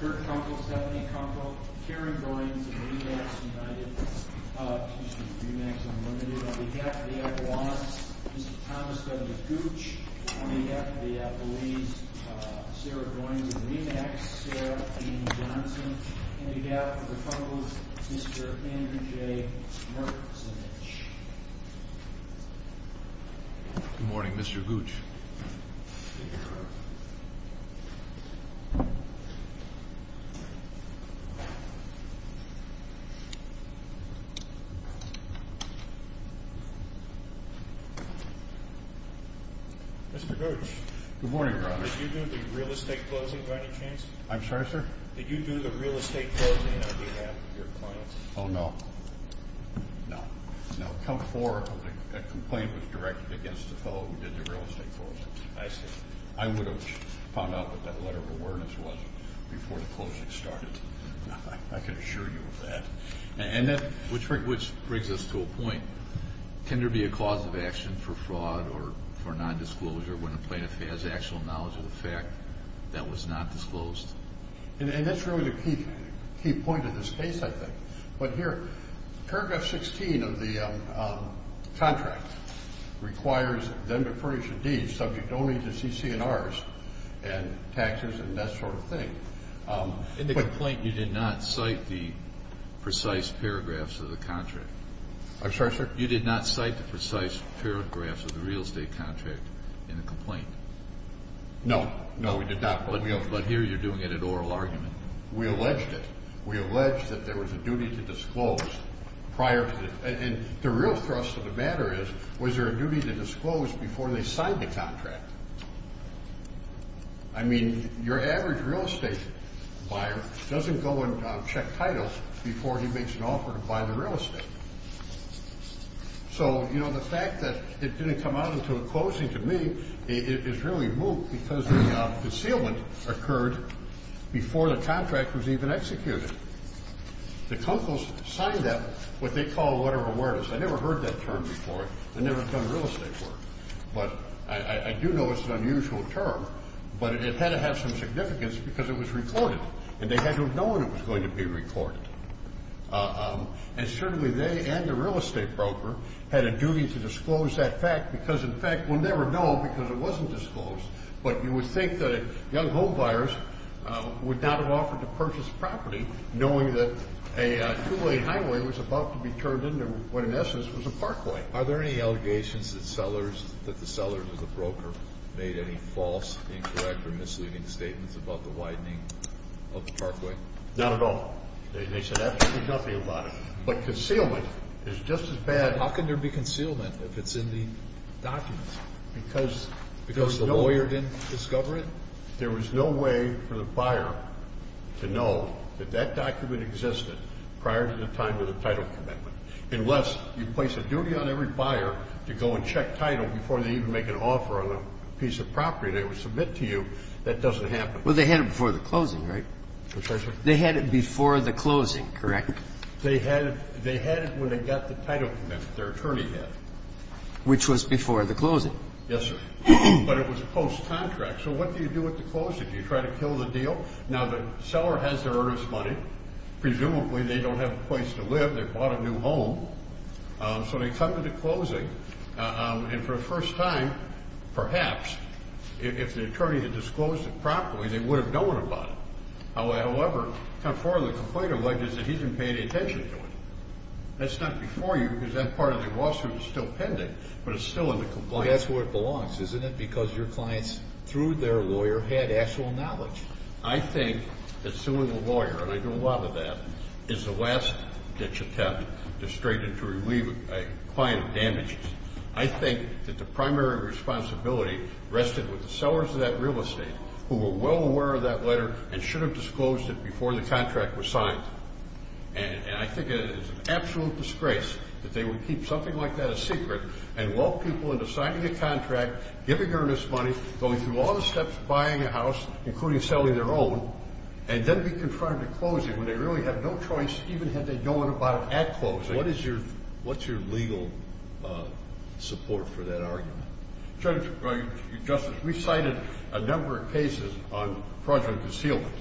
Kirk Kunkle, Stephanie Kunkle, Karen Goins and Remax United, excuse me, Remax Unlimited. On behalf of the Avalon, Mr. Thomas W. Gooch, on behalf of the Avalines, Sarah Goins and Remax, Sarah E. Johnson, and on behalf of the Kunkles, Mr. Andrew J. Mertzenich. Good morning, Mr. Gooch. Mr. Gooch. Good morning, Robert. Did you do the real estate closing, by any chance? I'm sorry, sir? Did you do the real estate closing on behalf of your clients? Oh, no. No. No. Count four of the complaint was directed against the fellow who did the real estate closing. I see. I would have found out what that letter of awareness was before the closing started. I can assure you of that. Which brings us to a point. Can there be a cause of action for fraud or for nondisclosure when a plaintiff has actual knowledge of the fact that was not disclosed? And that's really the key point of this case, I think. But here, paragraph 16 of the contract requires them to furnish a deed subject only to CC&Rs and taxes and that sort of thing. In the complaint, you did not cite the precise paragraphs of the contract. I'm sorry, sir? You did not cite the precise paragraphs of the real estate contract in the complaint? No. No, we did not. But here you're doing it in oral argument. We alleged it. We alleged that there was a duty to disclose prior to the – and the real thrust of the matter is, was there a duty to disclose before they signed the contract? I mean, your average real estate buyer doesn't go and check titles before he makes an offer to buy the real estate. So, you know, the fact that it didn't come out until the closing, to me, is really moot because the concealment occurred before the contract was even executed. The Kunkels signed that, what they call a letter of awareness. I never heard that term before. I've never done real estate work. But I do know it's an unusual term, but it had to have some significance because it was recorded, and they had to have known it was going to be recorded. And certainly they and the real estate broker had a duty to disclose that fact because, in fact, we'll never know because it wasn't disclosed. But you would think that young homebuyers would not have offered to purchase property knowing that a two-way highway was about to be turned into what, in essence, was a parkway. Are there any allegations that the sellers or the broker made any false, incorrect, or misleading statements about the widening of the parkway? Not at all. They said absolutely nothing about it. But concealment is just as bad. How can there be concealment if it's in the documents because the lawyer didn't discover it? There was no way for the buyer to know that that document existed prior to the time of the title commitment. Unless you place a duty on every buyer to go and check title before they even make an offer on a piece of property they would submit to you, that doesn't happen. Well, they had it before the closing, right? Yes, sir. They had it before the closing, correct? They had it when they got the title commitment their attorney had. Which was before the closing? Yes, sir. But it was post-contract. So what do you do at the closing? Do you try to kill the deal? Now, the seller has their earnest money. Presumably they don't have a place to live. They bought a new home. So they come to the closing. And for the first time, perhaps, if the attorney had disclosed it properly, they would have known about it. However, the complaint alleges that he didn't pay any attention to it. That's not before you because that part of the lawsuit is still pending. But it's still in the complaint. Well, that's where it belongs, isn't it? Because your clients, through their lawyer, had actual knowledge. I think that suing a lawyer, and I do a lot of that, is the last-ditch attempt that's straightened to relieve a client of damages. I think that the primary responsibility rested with the sellers of that real estate who were well aware of that letter and should have disclosed it before the contract was signed. And I think it is an absolute disgrace that they would keep something like that a secret and walk people into signing a contract, giving earnest money, going through all the steps of buying a house, including selling their own, and then be confronted at closing when they really had no choice even had they known about it at closing. What is your legal support for that argument? Judge, Justice, we cited a number of cases on fraudulent concealment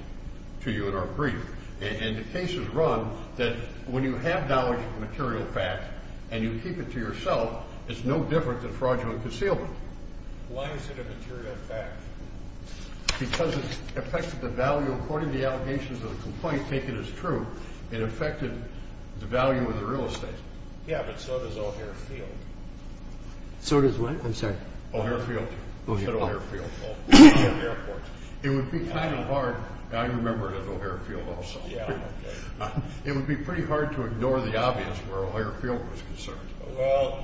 to you in our brief. And the cases run that when you have knowledge of material facts and you keep it to yourself, it's no different than fraudulent concealment. Why is it a material fact? Because it affected the value, according to the allegations of the complaint, taken as true. It affected the value of the real estate. Yeah, but so does O'Hare Field. So does what? I'm sorry. O'Hare Field. O'Hare. It would be kind of hard. I remember it as O'Hare Field also. It would be pretty hard to ignore the obvious where O'Hare Field was concerned. Well,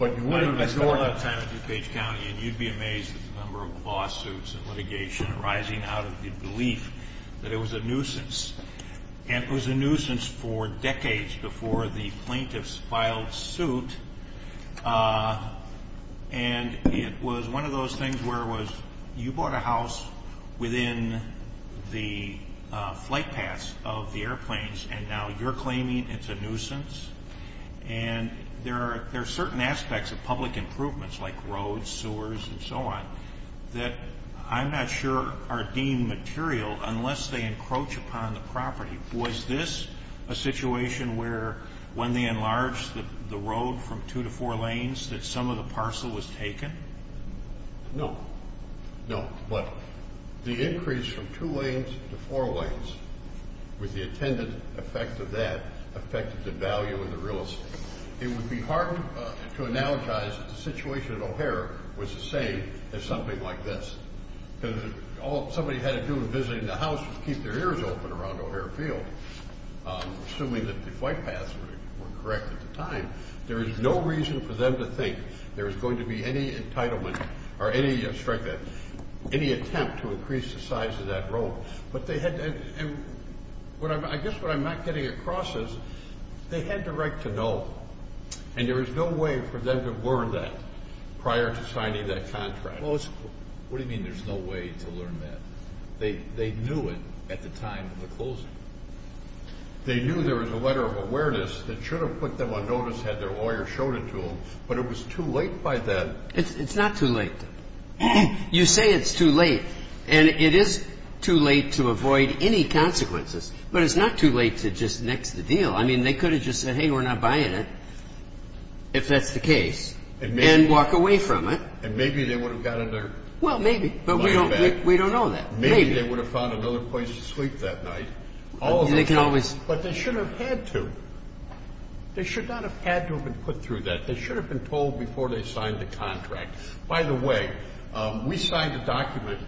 I spent a lot of time in DuPage County, and you'd be amazed at the number of lawsuits and litigation arising out of the belief that it was a nuisance. And it was a nuisance for decades before the plaintiffs filed suit. And it was one of those things where it was you bought a house within the flight paths of the airplanes, and now you're claiming it's a nuisance. And there are certain aspects of public improvements, like roads, sewers, and so on, that I'm not sure are deemed material unless they encroach upon the property. Was this a situation where when they enlarged the road from two to four lanes that some of the parcel was taken? No. No. But the increase from two lanes to four lanes, with the attendant effect of that, affected the value of the real estate. It would be hard to analogize that the situation at O'Hare was the same as something like this. Because all somebody had to do in visiting the house was keep their ears open around O'Hare Field, assuming that the flight paths were correct at the time. There was no reason for them to think there was going to be any entitlement or any attempt to increase the size of that road. But they had to—and I guess what I'm not getting across is they had the right to know, and there was no way for them to have learned that prior to signing that contract. Well, what do you mean there's no way to learn that? They knew it at the time of the closing. They knew there was a letter of awareness that should have put them on notice had their lawyer showed it to them, but it was too late by then. It's not too late. You say it's too late, and it is too late to avoid any consequences, but it's not too late to just nix the deal. I mean, they could have just said, hey, we're not buying it, if that's the case, and walk away from it. And maybe they would have gotten their money back. Well, maybe, but we don't know that. Maybe they would have found another place to sleep that night. But they should have had to. They should not have had to have been put through that. They should have been told before they signed the contract. By the way, we signed a document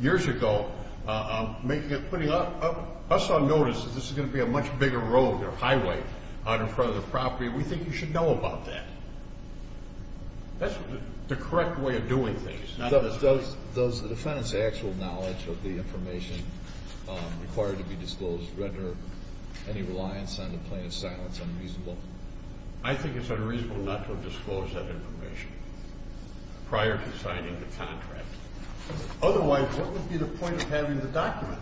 years ago putting us on notice that this is going to be a much bigger road or highway out in front of the property. We think you should know about that. That's the correct way of doing things. Does the defendant's actual knowledge of the information required to be disclosed render any reliance on the plaintiff's silence unreasonable? I think it's unreasonable not to have disclosed that information prior to signing the contract. Otherwise, what would be the point of having the document?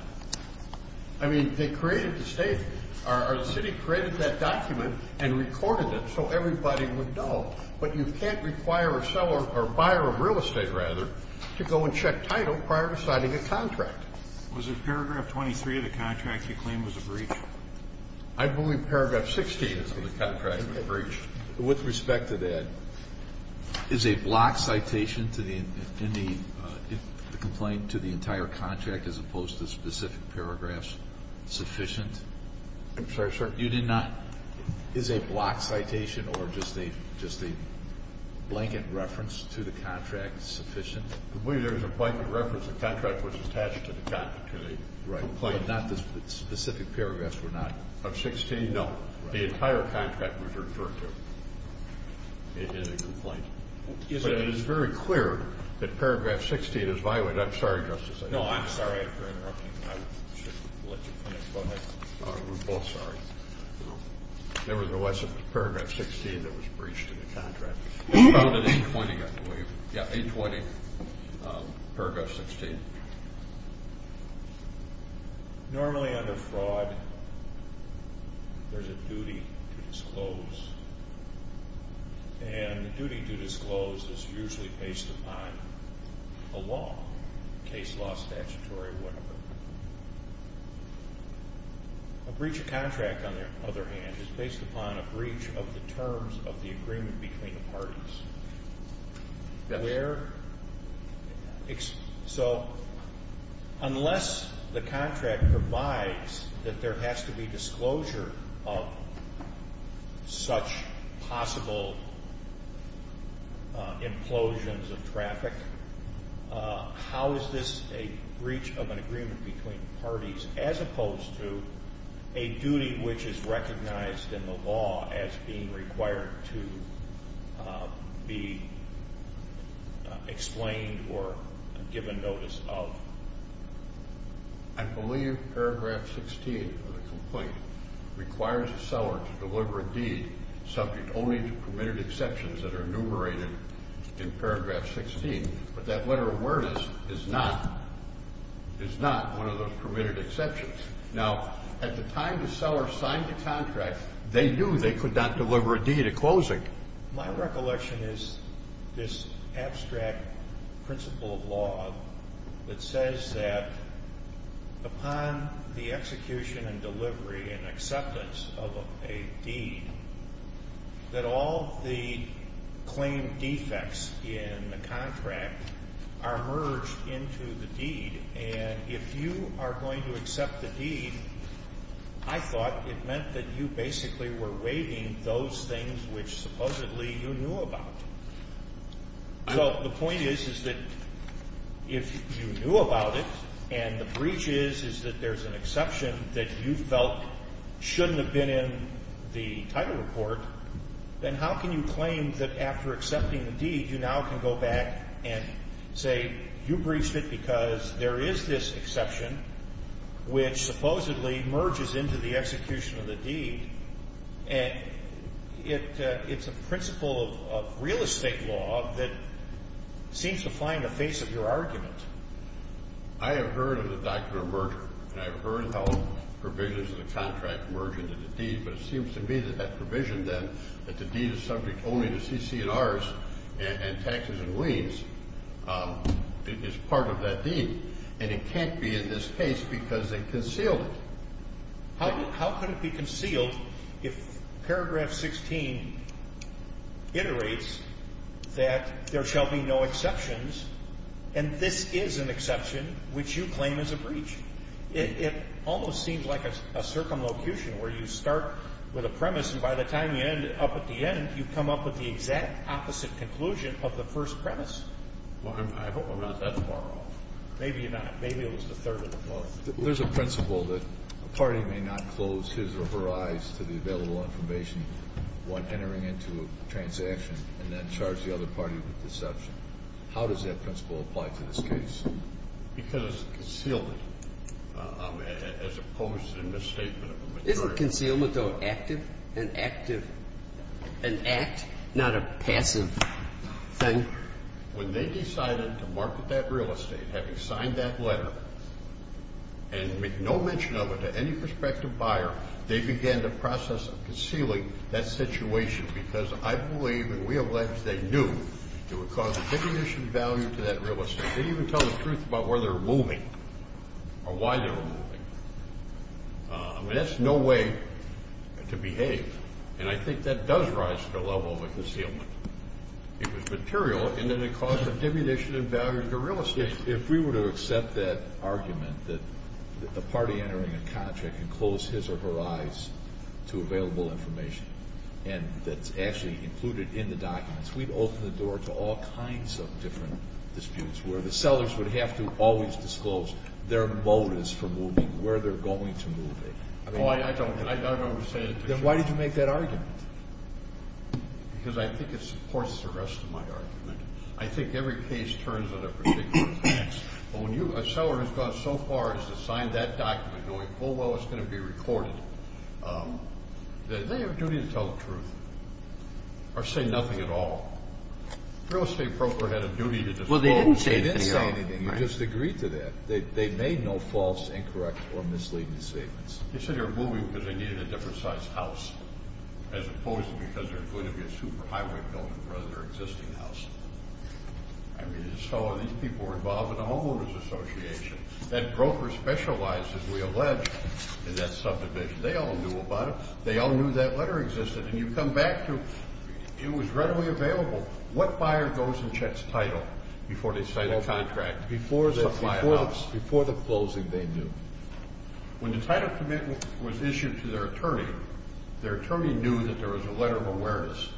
I mean, they created the statement, or the city created that document and recorded it so everybody would know. But you can't require a buyer of real estate, rather, to go and check title prior to signing a contract. Was it paragraph 23 of the contract you claim was a breach? I believe paragraph 16 of the contract was a breach. With respect to that, is a block citation in the complaint to the entire contract as opposed to specific paragraphs sufficient? I'm sorry, sir? You did not? Is a block citation or just a blanket reference to the contract sufficient? There was a blanket reference. The contract was attached to the complaint. But not the specific paragraphs were not? Of 16, no. The entire contract was referred to in the complaint. But it is very clear that paragraph 16 is violated. I'm sorry, Justice. No, I'm sorry for interrupting. I should have let you finish. Go ahead. We're both sorry. There was a lesson in paragraph 16 that was breached in the contract. It was violated in 20, I believe. Yeah, in 20, paragraph 16. Normally under fraud, there's a duty to disclose. And the duty to disclose is usually based upon a law, case law, statutory, whatever. A breach of contract, on the other hand, is based upon a breach of the terms of the agreement between the parties. So unless the contract provides that there has to be disclosure of such possible implosions of traffic, how is this a breach of an agreement between parties as opposed to a duty which is recognized in the law as being required to be explained or given notice of? I believe paragraph 16 of the complaint requires the seller to deliver a deed subject only to permitted exceptions that are enumerated in paragraph 16. But that letter of awareness is not one of those permitted exceptions. Now, at the time the seller signed the contract, they knew they could not deliver a deed at closing. My recollection is this abstract principle of law that says that upon the execution and delivery and acceptance of a deed, that all the claim defects in the contract are merged into the deed. And if you are going to accept the deed, I thought it meant that you basically were waiving those things which supposedly you knew about. Well, the point is, is that if you knew about it and the breach is that there's an exception that you felt shouldn't have been in the title report, then how can you claim that after accepting the deed, you now can go back and say you breached it because there is this exception which supposedly merges into the execution of the deed. And it's a principle of real estate law that seems to find the face of your argument. I have heard of the doctrine of merger. And I've heard how provisions of the contract merge into the deed. But it seems to me that that provision then, that the deed is subject only to CC&Rs and taxes and liens, is part of that deed. And it can't be in this case because they concealed it. How could it be concealed if paragraph 16 iterates that there shall be no exceptions and this is an exception which you claim is a breach? It almost seems like a circumlocution where you start with a premise and by the time you end up at the end, you come up with the exact opposite conclusion of the first premise. Well, I hope I'm not that far off. Maybe you're not. Maybe it was the third or the fourth. There's a principle that a party may not close his or her eyes to the available information while entering into a transaction and then charge the other party with deception. How does that principle apply to this case? Because it's a concealment as opposed to a misstatement of a majority. It's a concealment, though, active and active. An act, not a passive thing. When they decided to market that real estate, having signed that letter and make no mention of it to any prospective buyer, they began the process of concealing that situation because I believe and we have alleged they knew it would cause a significant value to that real estate. They didn't even tell the truth about where they were moving or why they were moving. I mean, that's no way to behave, and I think that does rise to the level of a concealment. It was material, and then it caused a diminution in value to the real estate. If we were to accept that argument that the party entering a contract can close his or her eyes to available information and that's actually included in the documents, we'd open the door to all kinds of different disputes where the sellers would have to always disclose their motives for moving, where they're going to move it. I don't understand it. Then why did you make that argument? Because I think it supports the rest of my argument. I think every case turns on a particular tax, but when a seller has gone so far as to sign that document knowing full well it's going to be recorded, they have a duty to tell the truth or say nothing at all. A real estate broker had a duty to disclose. Well, they didn't say anything. They didn't say anything. You just agreed to that. They made no false, incorrect, or misleading statements. They said they were moving because they needed a different size house as opposed to because they were going to be a superhighway building rather than their existing house. I mean, these people were involved in a homeowners association. That broker specialized, as we allege, in that subdivision. They all knew about it. They all knew that letter existed. And you come back to it was readily available. What buyer goes and checks title before they sign a contract, before they supply a house? Before the closing, they do. When the title commitment was issued to their attorney, their attorney knew that there was a letter of awareness.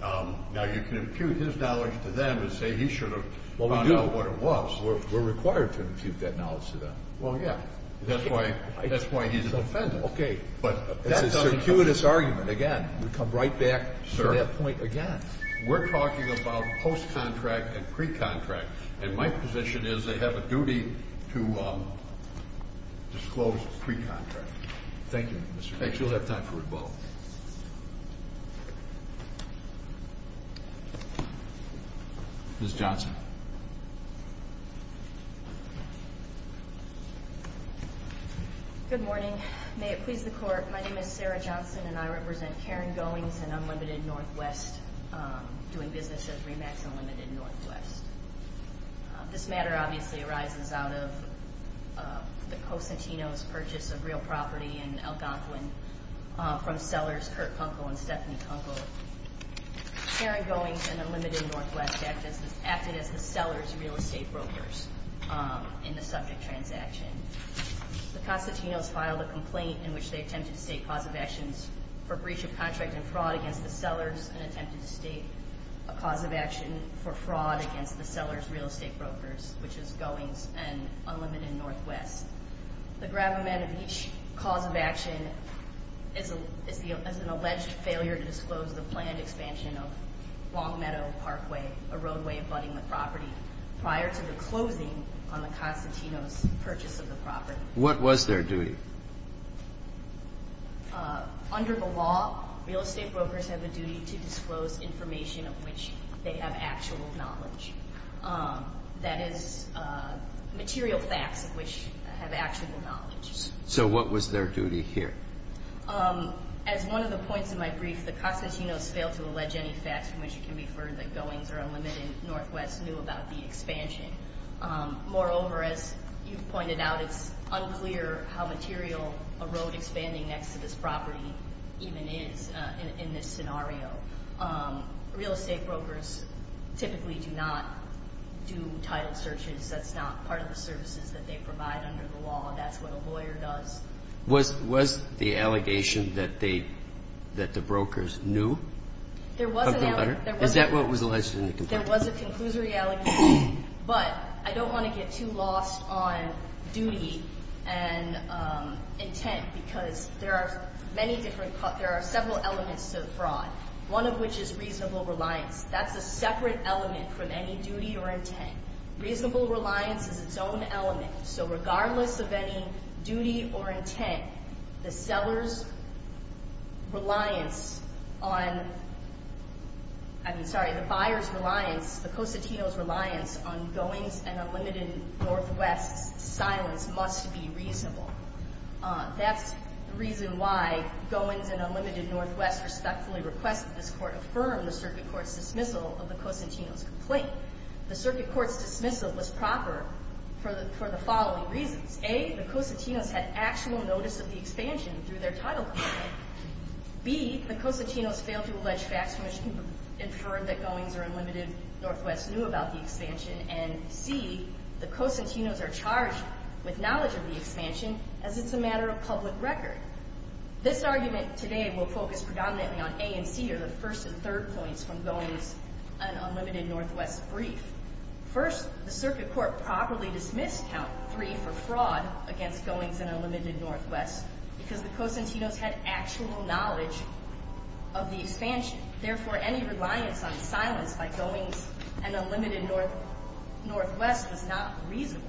Now, you can impute his knowledge to them and say he should have found out what it was. We're required to impute that knowledge to them. Well, yeah. That's why he's an offender. Okay, but that's a circuitous argument. Again, we come right back to that point again. We're talking about post-contract and pre-contract. And my position is they have a duty to disclose pre-contract. Thank you. Thanks. You'll have time for rebuttal. Ms. Johnson. Good morning. May it please the Court. My name is Sarah Johnson, and I represent Karen Goings and Unlimited Northwest, doing business at RE-MAX Unlimited Northwest. This matter obviously arises out of the Cosentino's purchase of real property in Algonquin from sellers Kurt Kunkel and Stephanie Kunkel. Karen Goings and Unlimited Northwest acted as the sellers' real estate brokers in the subject transaction. The Cosentinos filed a complaint in which they attempted to state cause of actions for breach of contract and fraud against the sellers and attempted to state a cause of action for fraud against the sellers' real estate brokers, which is Goings and Unlimited Northwest. The gravamen of each cause of action is an alleged failure to disclose the planned expansion of Long Meadow Parkway, a roadway abutting the property, prior to the closing on the Cosentinos' purchase of the property. What was their duty? Under the law, real estate brokers have a duty to disclose information of which they have actual knowledge, that is, material facts of which they have actual knowledge. So what was their duty here? As one of the points in my brief, the Cosentinos failed to allege any facts from which it can be inferred that Goings or Unlimited Northwest knew about the expansion. Moreover, as you've pointed out, it's unclear how material a road expanding next to this property even is in this scenario. Real estate brokers typically do not do title searches. That's not part of the services that they provide under the law. That's what a lawyer does. Was the allegation that the brokers knew of the letter? Is that what was alleged in the complaint? There was a conclusory allegation, but I don't want to get too lost on duty and intent because there are several elements to the fraud, one of which is reasonable reliance. That's a separate element from any duty or intent. Reasonable reliance is its own element, so regardless of any duty or intent, the buyer's reliance, the Cosentinos' reliance on Goings and Unlimited Northwest's silence must be reasonable. That's the reason why Goings and Unlimited Northwest respectfully requested this court affirm the circuit court's dismissal of the Cosentinos' complaint. The circuit court's dismissal was proper for the following reasons. A, the Cosentinos had actual notice of the expansion through their title complaint. B, the Cosentinos failed to allege facts from which it was inferred that Goings or Unlimited Northwest knew about the expansion. And C, the Cosentinos are charged with knowledge of the expansion as it's a matter of public record. This argument today will focus predominantly on A and C, or the first and third points from Goings and Unlimited Northwest's brief. First, the circuit court properly dismissed count three for fraud against Goings and Unlimited Northwest because the Cosentinos had actual knowledge of the expansion. Therefore, any reliance on silence by Goings and Unlimited Northwest was not reasonable.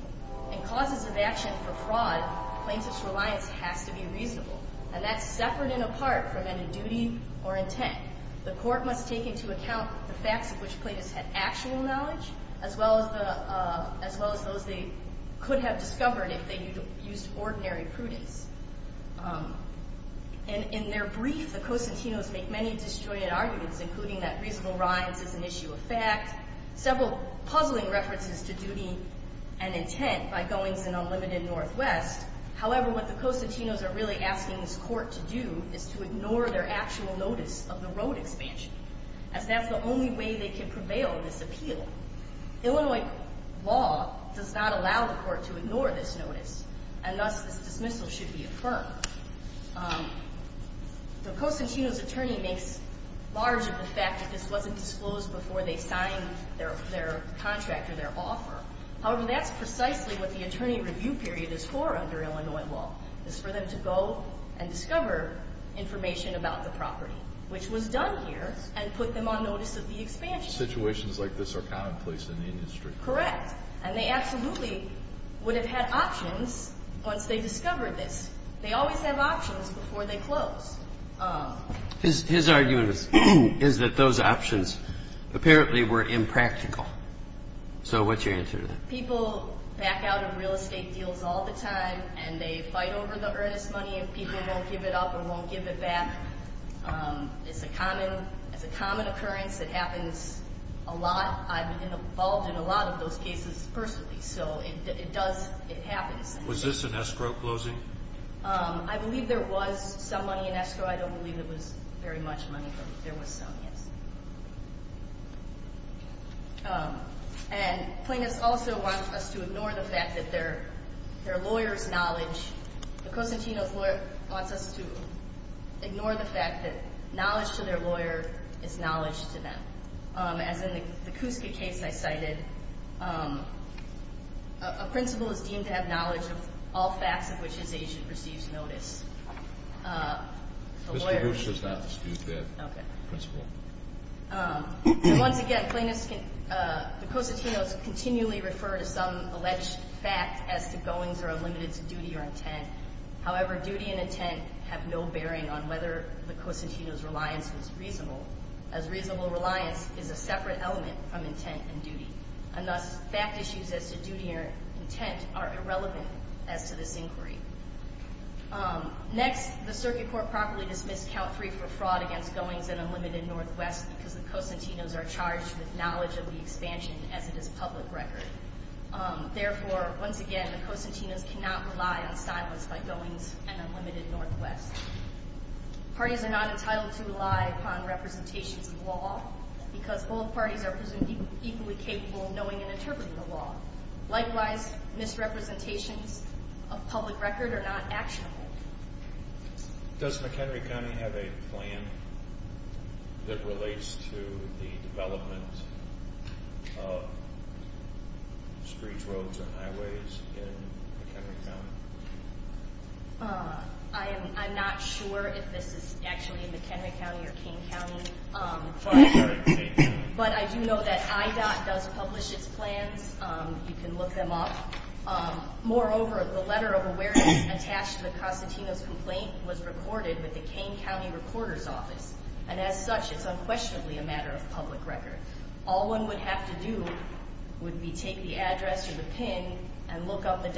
In causes of action for fraud, plaintiff's reliance has to be reasonable, and that's separate and apart from any duty or intent. The court must take into account the facts of which plaintiffs had actual knowledge as well as those they could have discovered if they used ordinary prudence. In their brief, the Cosentinos make many disjointed arguments, including that reasonable rhymes is an issue of fact, several puzzling references to duty and intent by Goings and Unlimited Northwest. However, what the Cosentinos are really asking this court to do is to ignore their actual notice of the road expansion, as that's the only way they can prevail in this appeal. Illinois law does not allow the court to ignore this notice, and thus this dismissal should be affirmed. The Cosentinos' attorney makes large of the fact that this wasn't disclosed before they signed their contract or their offer. However, that's precisely what the attorney review period is for under Illinois law, is for them to go and discover information about the property, which was done here and put them on notice of the expansion. Situations like this are commonplace in the industry. Correct, and they absolutely would have had options once they discovered this. They always have options before they close. His argument is that those options apparently were impractical. So what's your answer to that? People back out of real estate deals all the time, and they fight over the earnest money and people won't give it up or won't give it back. It's a common occurrence. It happens a lot. I'm involved in a lot of those cases personally, so it happens. Was this an escrow closing? I believe there was some money in escrow. I don't believe it was very much money, but there was some, yes. And plaintiffs also want us to ignore the fact that their lawyer's knowledge, the Cosentino's lawyer wants us to ignore the fact that knowledge to their lawyer is knowledge to them. As in the Cuska case I cited, a principal is deemed to have knowledge of all facts of which his agent receives notice. Mr. Bush does not dispute that principle. Once again, the Cosentino's continually refer to some alleged fact as to goings or unlimiteds of duty or intent. However, duty and intent have no bearing on whether the Cosentino's reliance is reasonable, as reasonable reliance is a separate element from intent and duty. And thus, fact issues as to duty or intent are irrelevant as to this inquiry. Next, the circuit court properly dismissed count three for fraud against goings and unlimited Northwest because the Cosentino's are charged with knowledge of the expansion as it is public record. Therefore, once again, the Cosentino's cannot rely on silence by goings and unlimited Northwest. Parties are not entitled to rely upon representations of law because both parties are presumed equally capable of knowing and interpreting the law. Likewise, misrepresentations of public record are not actionable. Does McHenry County have a plan that relates to the development of streets, roads, and highways in McHenry County? I'm not sure if this is actually in McHenry County or Kane County. I'm sorry, Kane County. You can look them up. Moreover, the letter of awareness attached to the Cosentino's complaint was recorded with the Kane County Recorder's Office. And as such, it's unquestionably a matter of public record. All one would have to do would be take the address or the PIN and look up the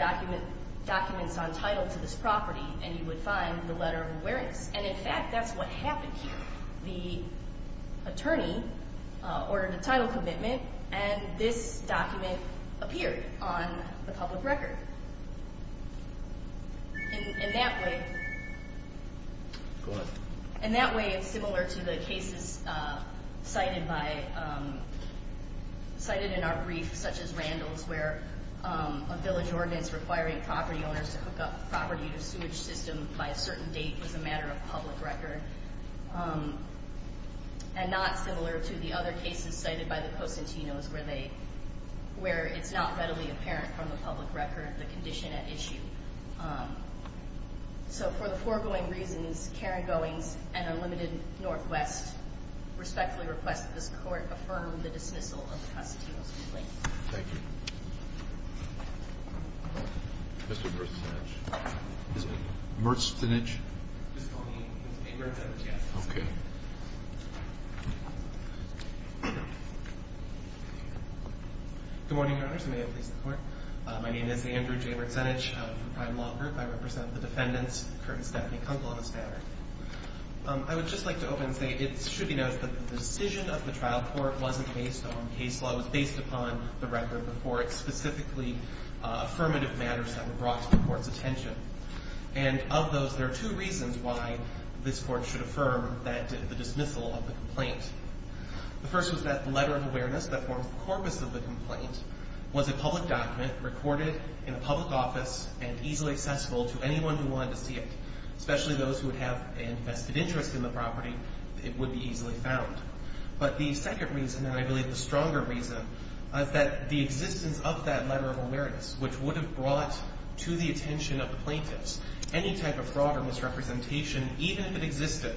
documents on title to this property, and you would find the letter of awareness. And in fact, that's what happened here. The attorney ordered a title commitment, and this document appeared on the public record. In that way, it's similar to the cases cited in our brief, such as Randall's, where a village ordinance requiring property owners to hook up property to a sewage system by a certain date was a matter of public record. And not similar to the other cases cited by the Cosentino's where it's not readily apparent from the public record the condition at issue. So for the foregoing reasons, Karen Goings and Unlimited Northwest respectfully request that this court affirm the dismissal of the Cosentino's complaint. Thank you. Mr. Mertzfinich. Mr. Mertzfinich. Just call me Mr. Mertzfinich, yes. Okay. Good morning, Your Honors. May it please the Court. My name is Andrew J. Mertzfinich of the Prime Law Group. I represent the defendants, Kurt and Stephanie Kunkel on this matter. I would just like to open and say it should be noted that the decision of the trial court wasn't based on case law. It was based upon the record before it, specifically affirmative matters that were brought to the Court's attention. And of those, there are two reasons why this Court should affirm the dismissal of the complaint. The first was that the letter of awareness that forms the corpus of the complaint was a public document recorded in a public office and easily accessible to anyone who wanted to see it. Especially those who would have a vested interest in the property, it would be easily found. But the second reason, and I believe the stronger reason, is that the existence of that letter of awareness, which would have brought to the attention of the plaintiffs, any type of fraud or misrepresentation, even if it existed,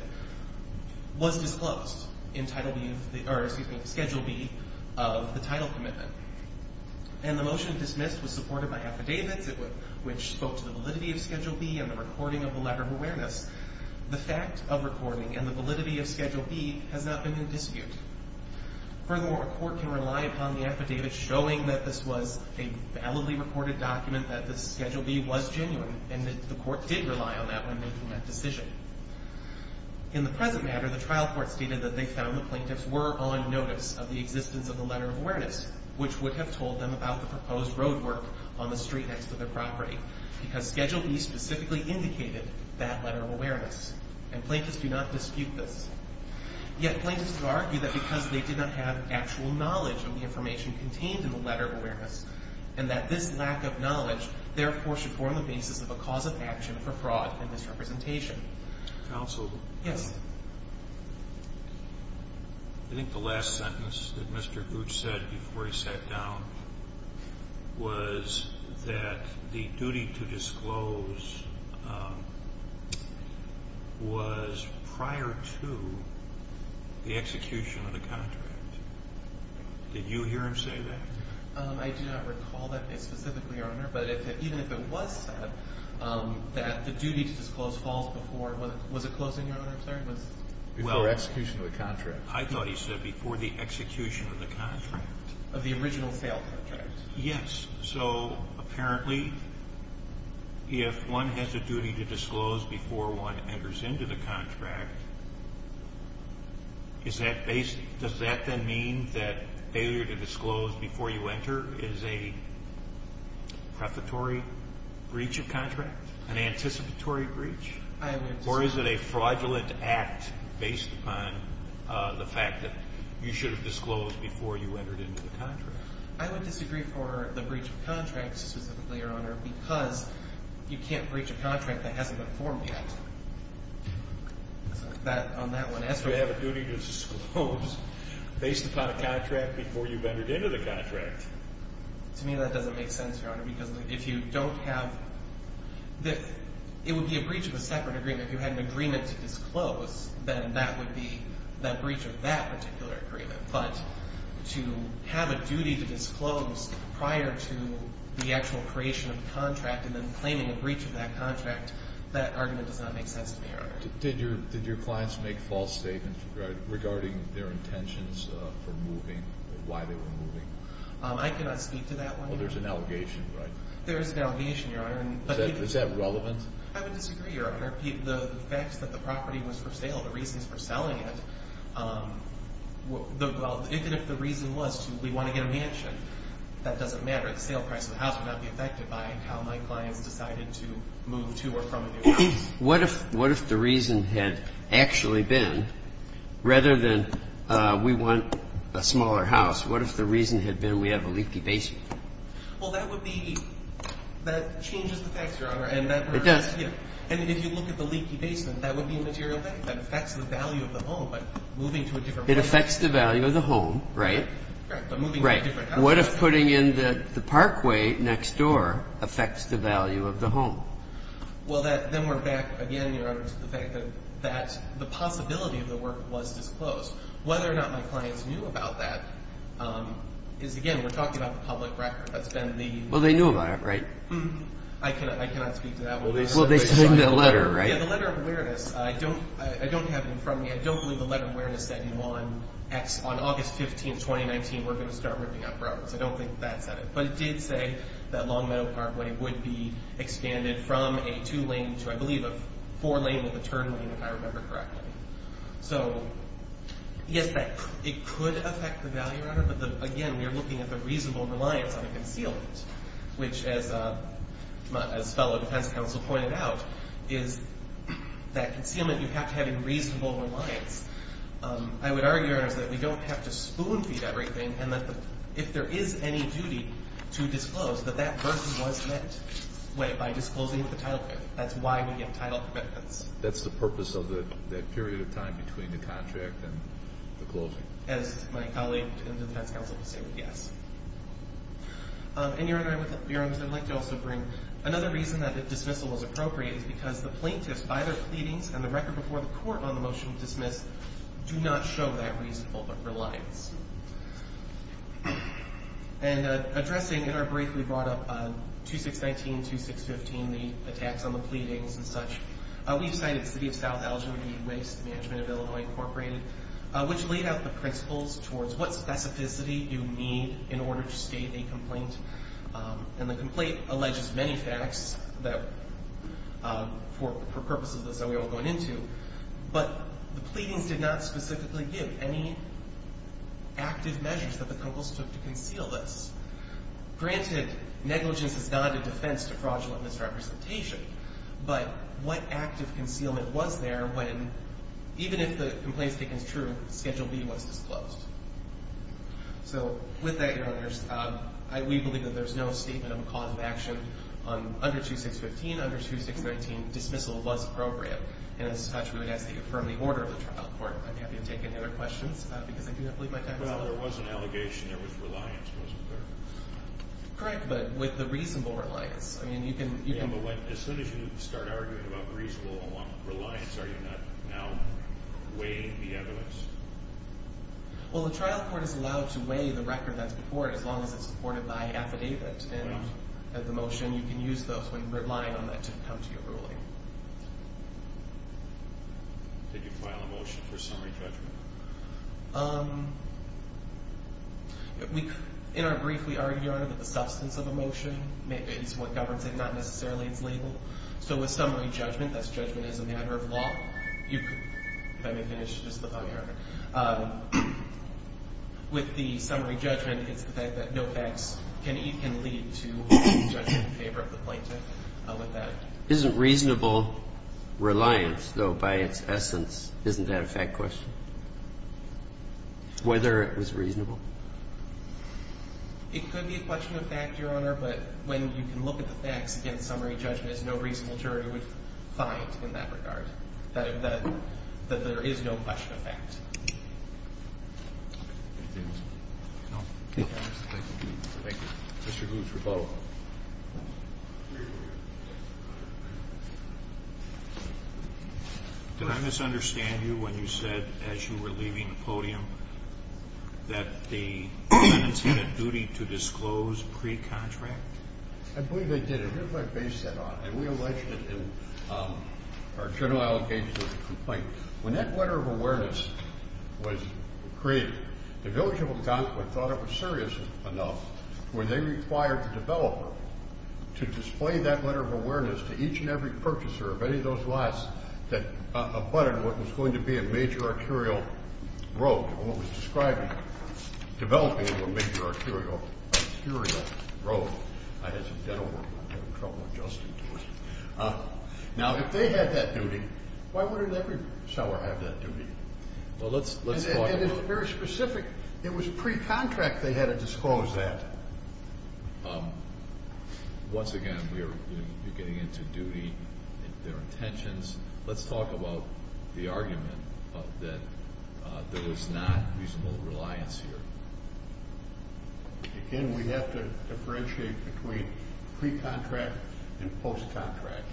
was disclosed in Schedule B of the title commitment. And the motion dismissed was supported by affidavits, which spoke to the validity of Schedule B and the recording of the letter of awareness. The fact of recording and the validity of Schedule B has not been in dispute. Furthermore, a court can rely upon the affidavit showing that this was a validly recorded document, that the Schedule B was genuine, and that the court did rely on that when making that decision. In the present matter, the trial court stated that they found the plaintiffs were on notice of the existence of the letter of awareness, which would have told them about the proposed road work on the street next to their property, because Schedule B specifically indicated that letter of awareness. And plaintiffs do not dispute this. Yet, plaintiffs argue that because they did not have actual knowledge of the information contained in the letter of awareness, and that this lack of knowledge, therefore, should form the basis of a cause of action for fraud and misrepresentation. Counsel? Yes. I think the last sentence that Mr. Gooch said before he sat down was that the duty to disclose was prior to the execution of the contract. Did you hear him say that? I do not recall that specifically, Your Honor, but even if it was said that the duty to disclose falls before, was it closing, Your Honor, I'm sorry? Before execution of the contract. I thought he said before the execution of the contract. Of the original sale contract. Yes. So, apparently, if one has a duty to disclose before one enters into the contract, does that then mean that failure to disclose before you enter is a prefatory breach of contract? An anticipatory breach? I would disagree. Or is it a fraudulent act based upon the fact that you should have disclosed before you entered into the contract? I would disagree for the breach of contract specifically, Your Honor, because you can't breach a contract that hasn't been formed yet. That, on that one. If you have a duty to disclose based upon a contract before you've entered into the contract. To me, that doesn't make sense, Your Honor, because if you don't have, it would be a breach of a separate agreement. If you had an agreement to disclose, then that would be that breach of that particular agreement. But to have a duty to disclose prior to the actual creation of the contract and then claiming a breach of that contract, that argument does not make sense to me, Your Honor. Did your clients make false statements regarding their intentions for moving or why they were moving? I cannot speak to that one, Your Honor. Well, there's an allegation, right? There is an allegation, Your Honor. Is that relevant? I would disagree, Your Honor. The facts that the property was for sale, the reasons for selling it, even if the reason was to we want to get a mansion, that doesn't matter. The sale price of the house would not be affected by how my clients decided to move to or from a new house. What if the reason had actually been, rather than we want a smaller house, what if the reason had been we have a leaky basement? Well, that would be, that changes the facts, Your Honor. It does. And if you look at the leaky basement, that would be a material thing. That affects the value of the home, but moving to a different place. It affects the value of the home, right? Right, but moving to a different house. Right. What if putting in the parkway next door affects the value of the home? Well, then we're back again, Your Honor, to the fact that the possibility of the work was disclosed. Whether or not my clients knew about that is, again, we're talking about the public record. That's been the... Well, they knew about it, right? I cannot speak to that one. Well, they submitted a letter, right? Yeah, the letter of awareness. I don't have it in front of me. I don't believe the letter of awareness said on August 15, 2019, we're going to start ripping out properties. I don't think that said it. But it did say that Longmeadow Parkway would be expanded from a two-lane to, I believe, a four-lane with a turn lane, if I remember correctly. So, yes, it could affect the value, Your Honor. But, again, we're looking at the reasonable reliance on a concealment, which, as fellow defense counsel pointed out, is that concealment, you have to have a reasonable reliance. I would argue, Your Honor, is that we don't have to spoon-feed everything, and that if there is any duty to disclose, that that person was met by disclosing the title commitment. That's why we give title commitments. That's the purpose of that period of time between the contract and the closing. As my colleague in the defense counsel would say, yes. And, Your Honor, I would like to also bring another reason that dismissal was appropriate is because the plaintiffs, by their pleadings and the record before the court on the motion to dismiss, do not show that reasonable reliance. And addressing, in our brief, we brought up 2619, 2615, the attacks on the pleadings and such, we've cited City of South Algeria, E-Waste, Management of Illinois, Incorporated, which laid out the principles towards what specificity you need in order to state a complaint. And the complaint alleges many facts that, for purposes of this, that we won't go into, but the pleadings did not specifically give any active measures that the Counsels took to conceal this. Granted, negligence is not a defense to fraudulent misrepresentation, but what active concealment was there when, even if the complaint's taken as true, Schedule B was disclosed? So, with that, Your Honors, we believe that there's no statement of a cause of action under 2615. Under 2619, dismissal was appropriate. And as such, we would ask that you affirm the order of the trial court. I'd be happy to take any other questions, because I do not believe my time is up. Well, there was an allegation there was reliance, wasn't there? Correct, but with the reasonable reliance. Yeah, but as soon as you start arguing about reasonable reliance, are you not now weighing the evidence? Well, the trial court is allowed to weigh the record that's before it, as long as it's supported by affidavit and the motion. You can use those when relying on that to come to your ruling. Did you file a motion for summary judgment? In our brief, we argue, Your Honor, that the substance of a motion may be what governs it, not necessarily its label. So with summary judgment, that's judgment as a matter of law. If I may finish, just let me know, Your Honor. With the summary judgment, it's the fact that no facts can lead to judgment in favor of the plaintiff. Isn't reasonable reliance, though, by its essence, isn't that a fact question? Whether it was reasonable. It could be a question of fact, Your Honor, but when you can look at the facts against summary judgment, there's no reasonable jury would find in that regard, that there is no question of fact. Did I misunderstand you when you said, as you were leaving the podium, that the defendants had a duty to disclose pre-contract? I believe they did. Here's what I base that on. When that letter of awareness was created, the village of Algonquin thought it was serious enough, where they required the developer to display that letter of awareness to each and every purchaser of any of those lots that abutted what was going to be a major arterial road, what was described as developing into a major arterial road. I had some dental work. I'm having trouble adjusting to it. Now, if they had that duty, why wouldn't every seller have that duty? Well, let's talk about it. And it's very specific. It was pre-contract they had to disclose that. Once again, you're getting into duty, their intentions. Let's talk about the argument that there was not reasonable reliance here. Again, we have to differentiate between pre-contract and post-contract.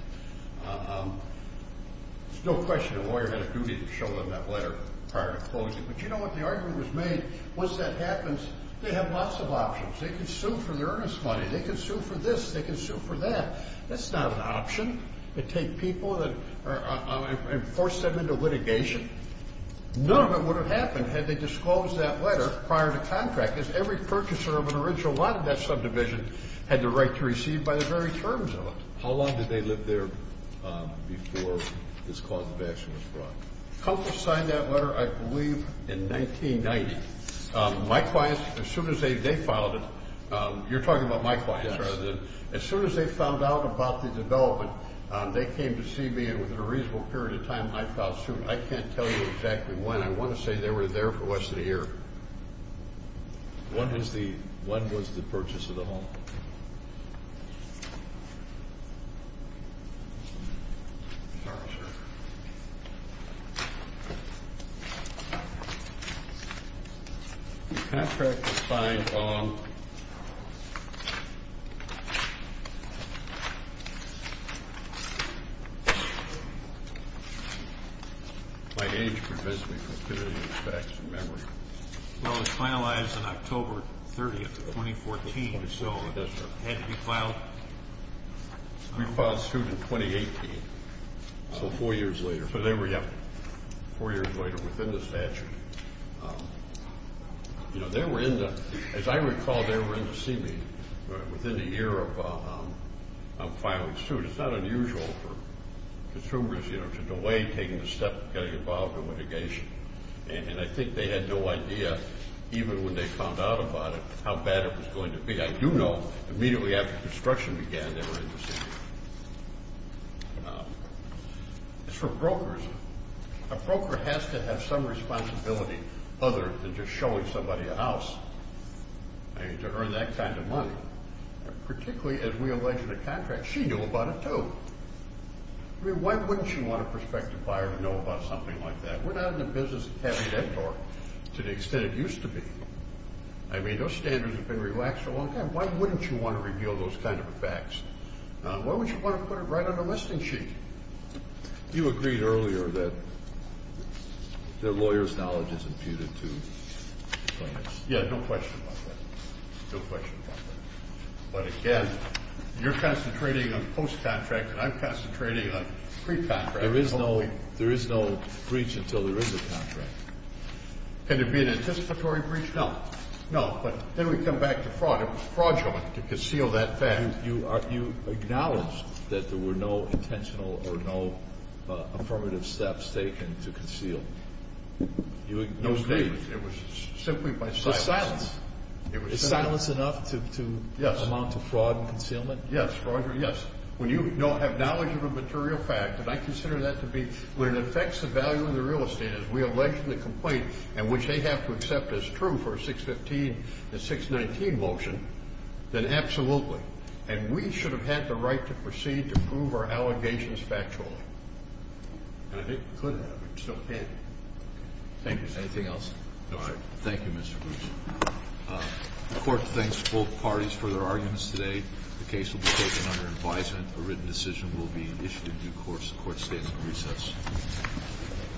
It's no question the lawyer had a duty to show them that letter prior to closing. But you know what the argument was made? Once that happens, they have lots of options. They can sue for the earnest money. They can sue for this. They can sue for that. That's not an option to take people and force them into litigation. None of it would have happened had they disclosed that letter prior to contract. Because every purchaser of an original lot of that subdivision had the right to receive by the very terms of it. How long did they live there before this cause of action was brought? Couples signed that letter, I believe, in 1990. My clients, as soon as they filed it, you're talking about my clients rather than them. As soon as they found out about the development, they came to see me. And within a reasonable period of time, I filed suit. I can't tell you exactly when. I want to say they were there for less than a year. When was the purchase of the home? I'm sorry, sir. The contract was signed on? By age, provisional activity, and facts, and memory. Well, it was finalized on October 30th of 2014, so it had to be filed. We filed suit in 2018. So four years later. Four years later within the statute. As I recall, they were in to see me within a year of filing suit. It's not unusual for consumers to delay taking a step, getting involved in litigation. And I think they had no idea, even when they found out about it, how bad it was going to be. I do know immediately after construction began, they were in to see me. It's for brokers. A broker has to have some responsibility other than just showing somebody a house to earn that kind of money, particularly as we allege in the contract. She knew about it, too. I mean, why wouldn't you want a prospective buyer to know about something like that? We're not in the business of having that door to the extent it used to be. I mean, those standards have been relaxed for a long time. Why wouldn't you want to reveal those kind of facts? Why would you want to put it right on the listing sheet? You agreed earlier that the lawyer's knowledge is imputed, too. Yeah, no question about that. No question about that. But, again, you're concentrating on post-contract, and I'm concentrating on pre-contract. There is no breach until there is a contract. Can there be an anticipatory breach? No. No, but then we come back to fraud. It was fraudulent to conceal that fact. You acknowledged that there were no intentional or no affirmative steps taken to conceal. You agreed. It was simply by silence. By silence. Silence enough to amount to fraud and concealment? Yes, Roger, yes. When you have knowledge of a material fact, and I consider that to be when it affects the value of the real estate, as we allegedly complain and which they have to accept as true for a 615 and 619 motion, then absolutely. And we should have had the right to proceed to prove our allegations factually. And I think we could have, but we still can't. Thank you, sir. Anything else? No, sir. Thank you, Mr. Bruce. The court thanks both parties for their arguments today. The case will be taken under advisement. A written decision will be issued in due course. The court statement recess.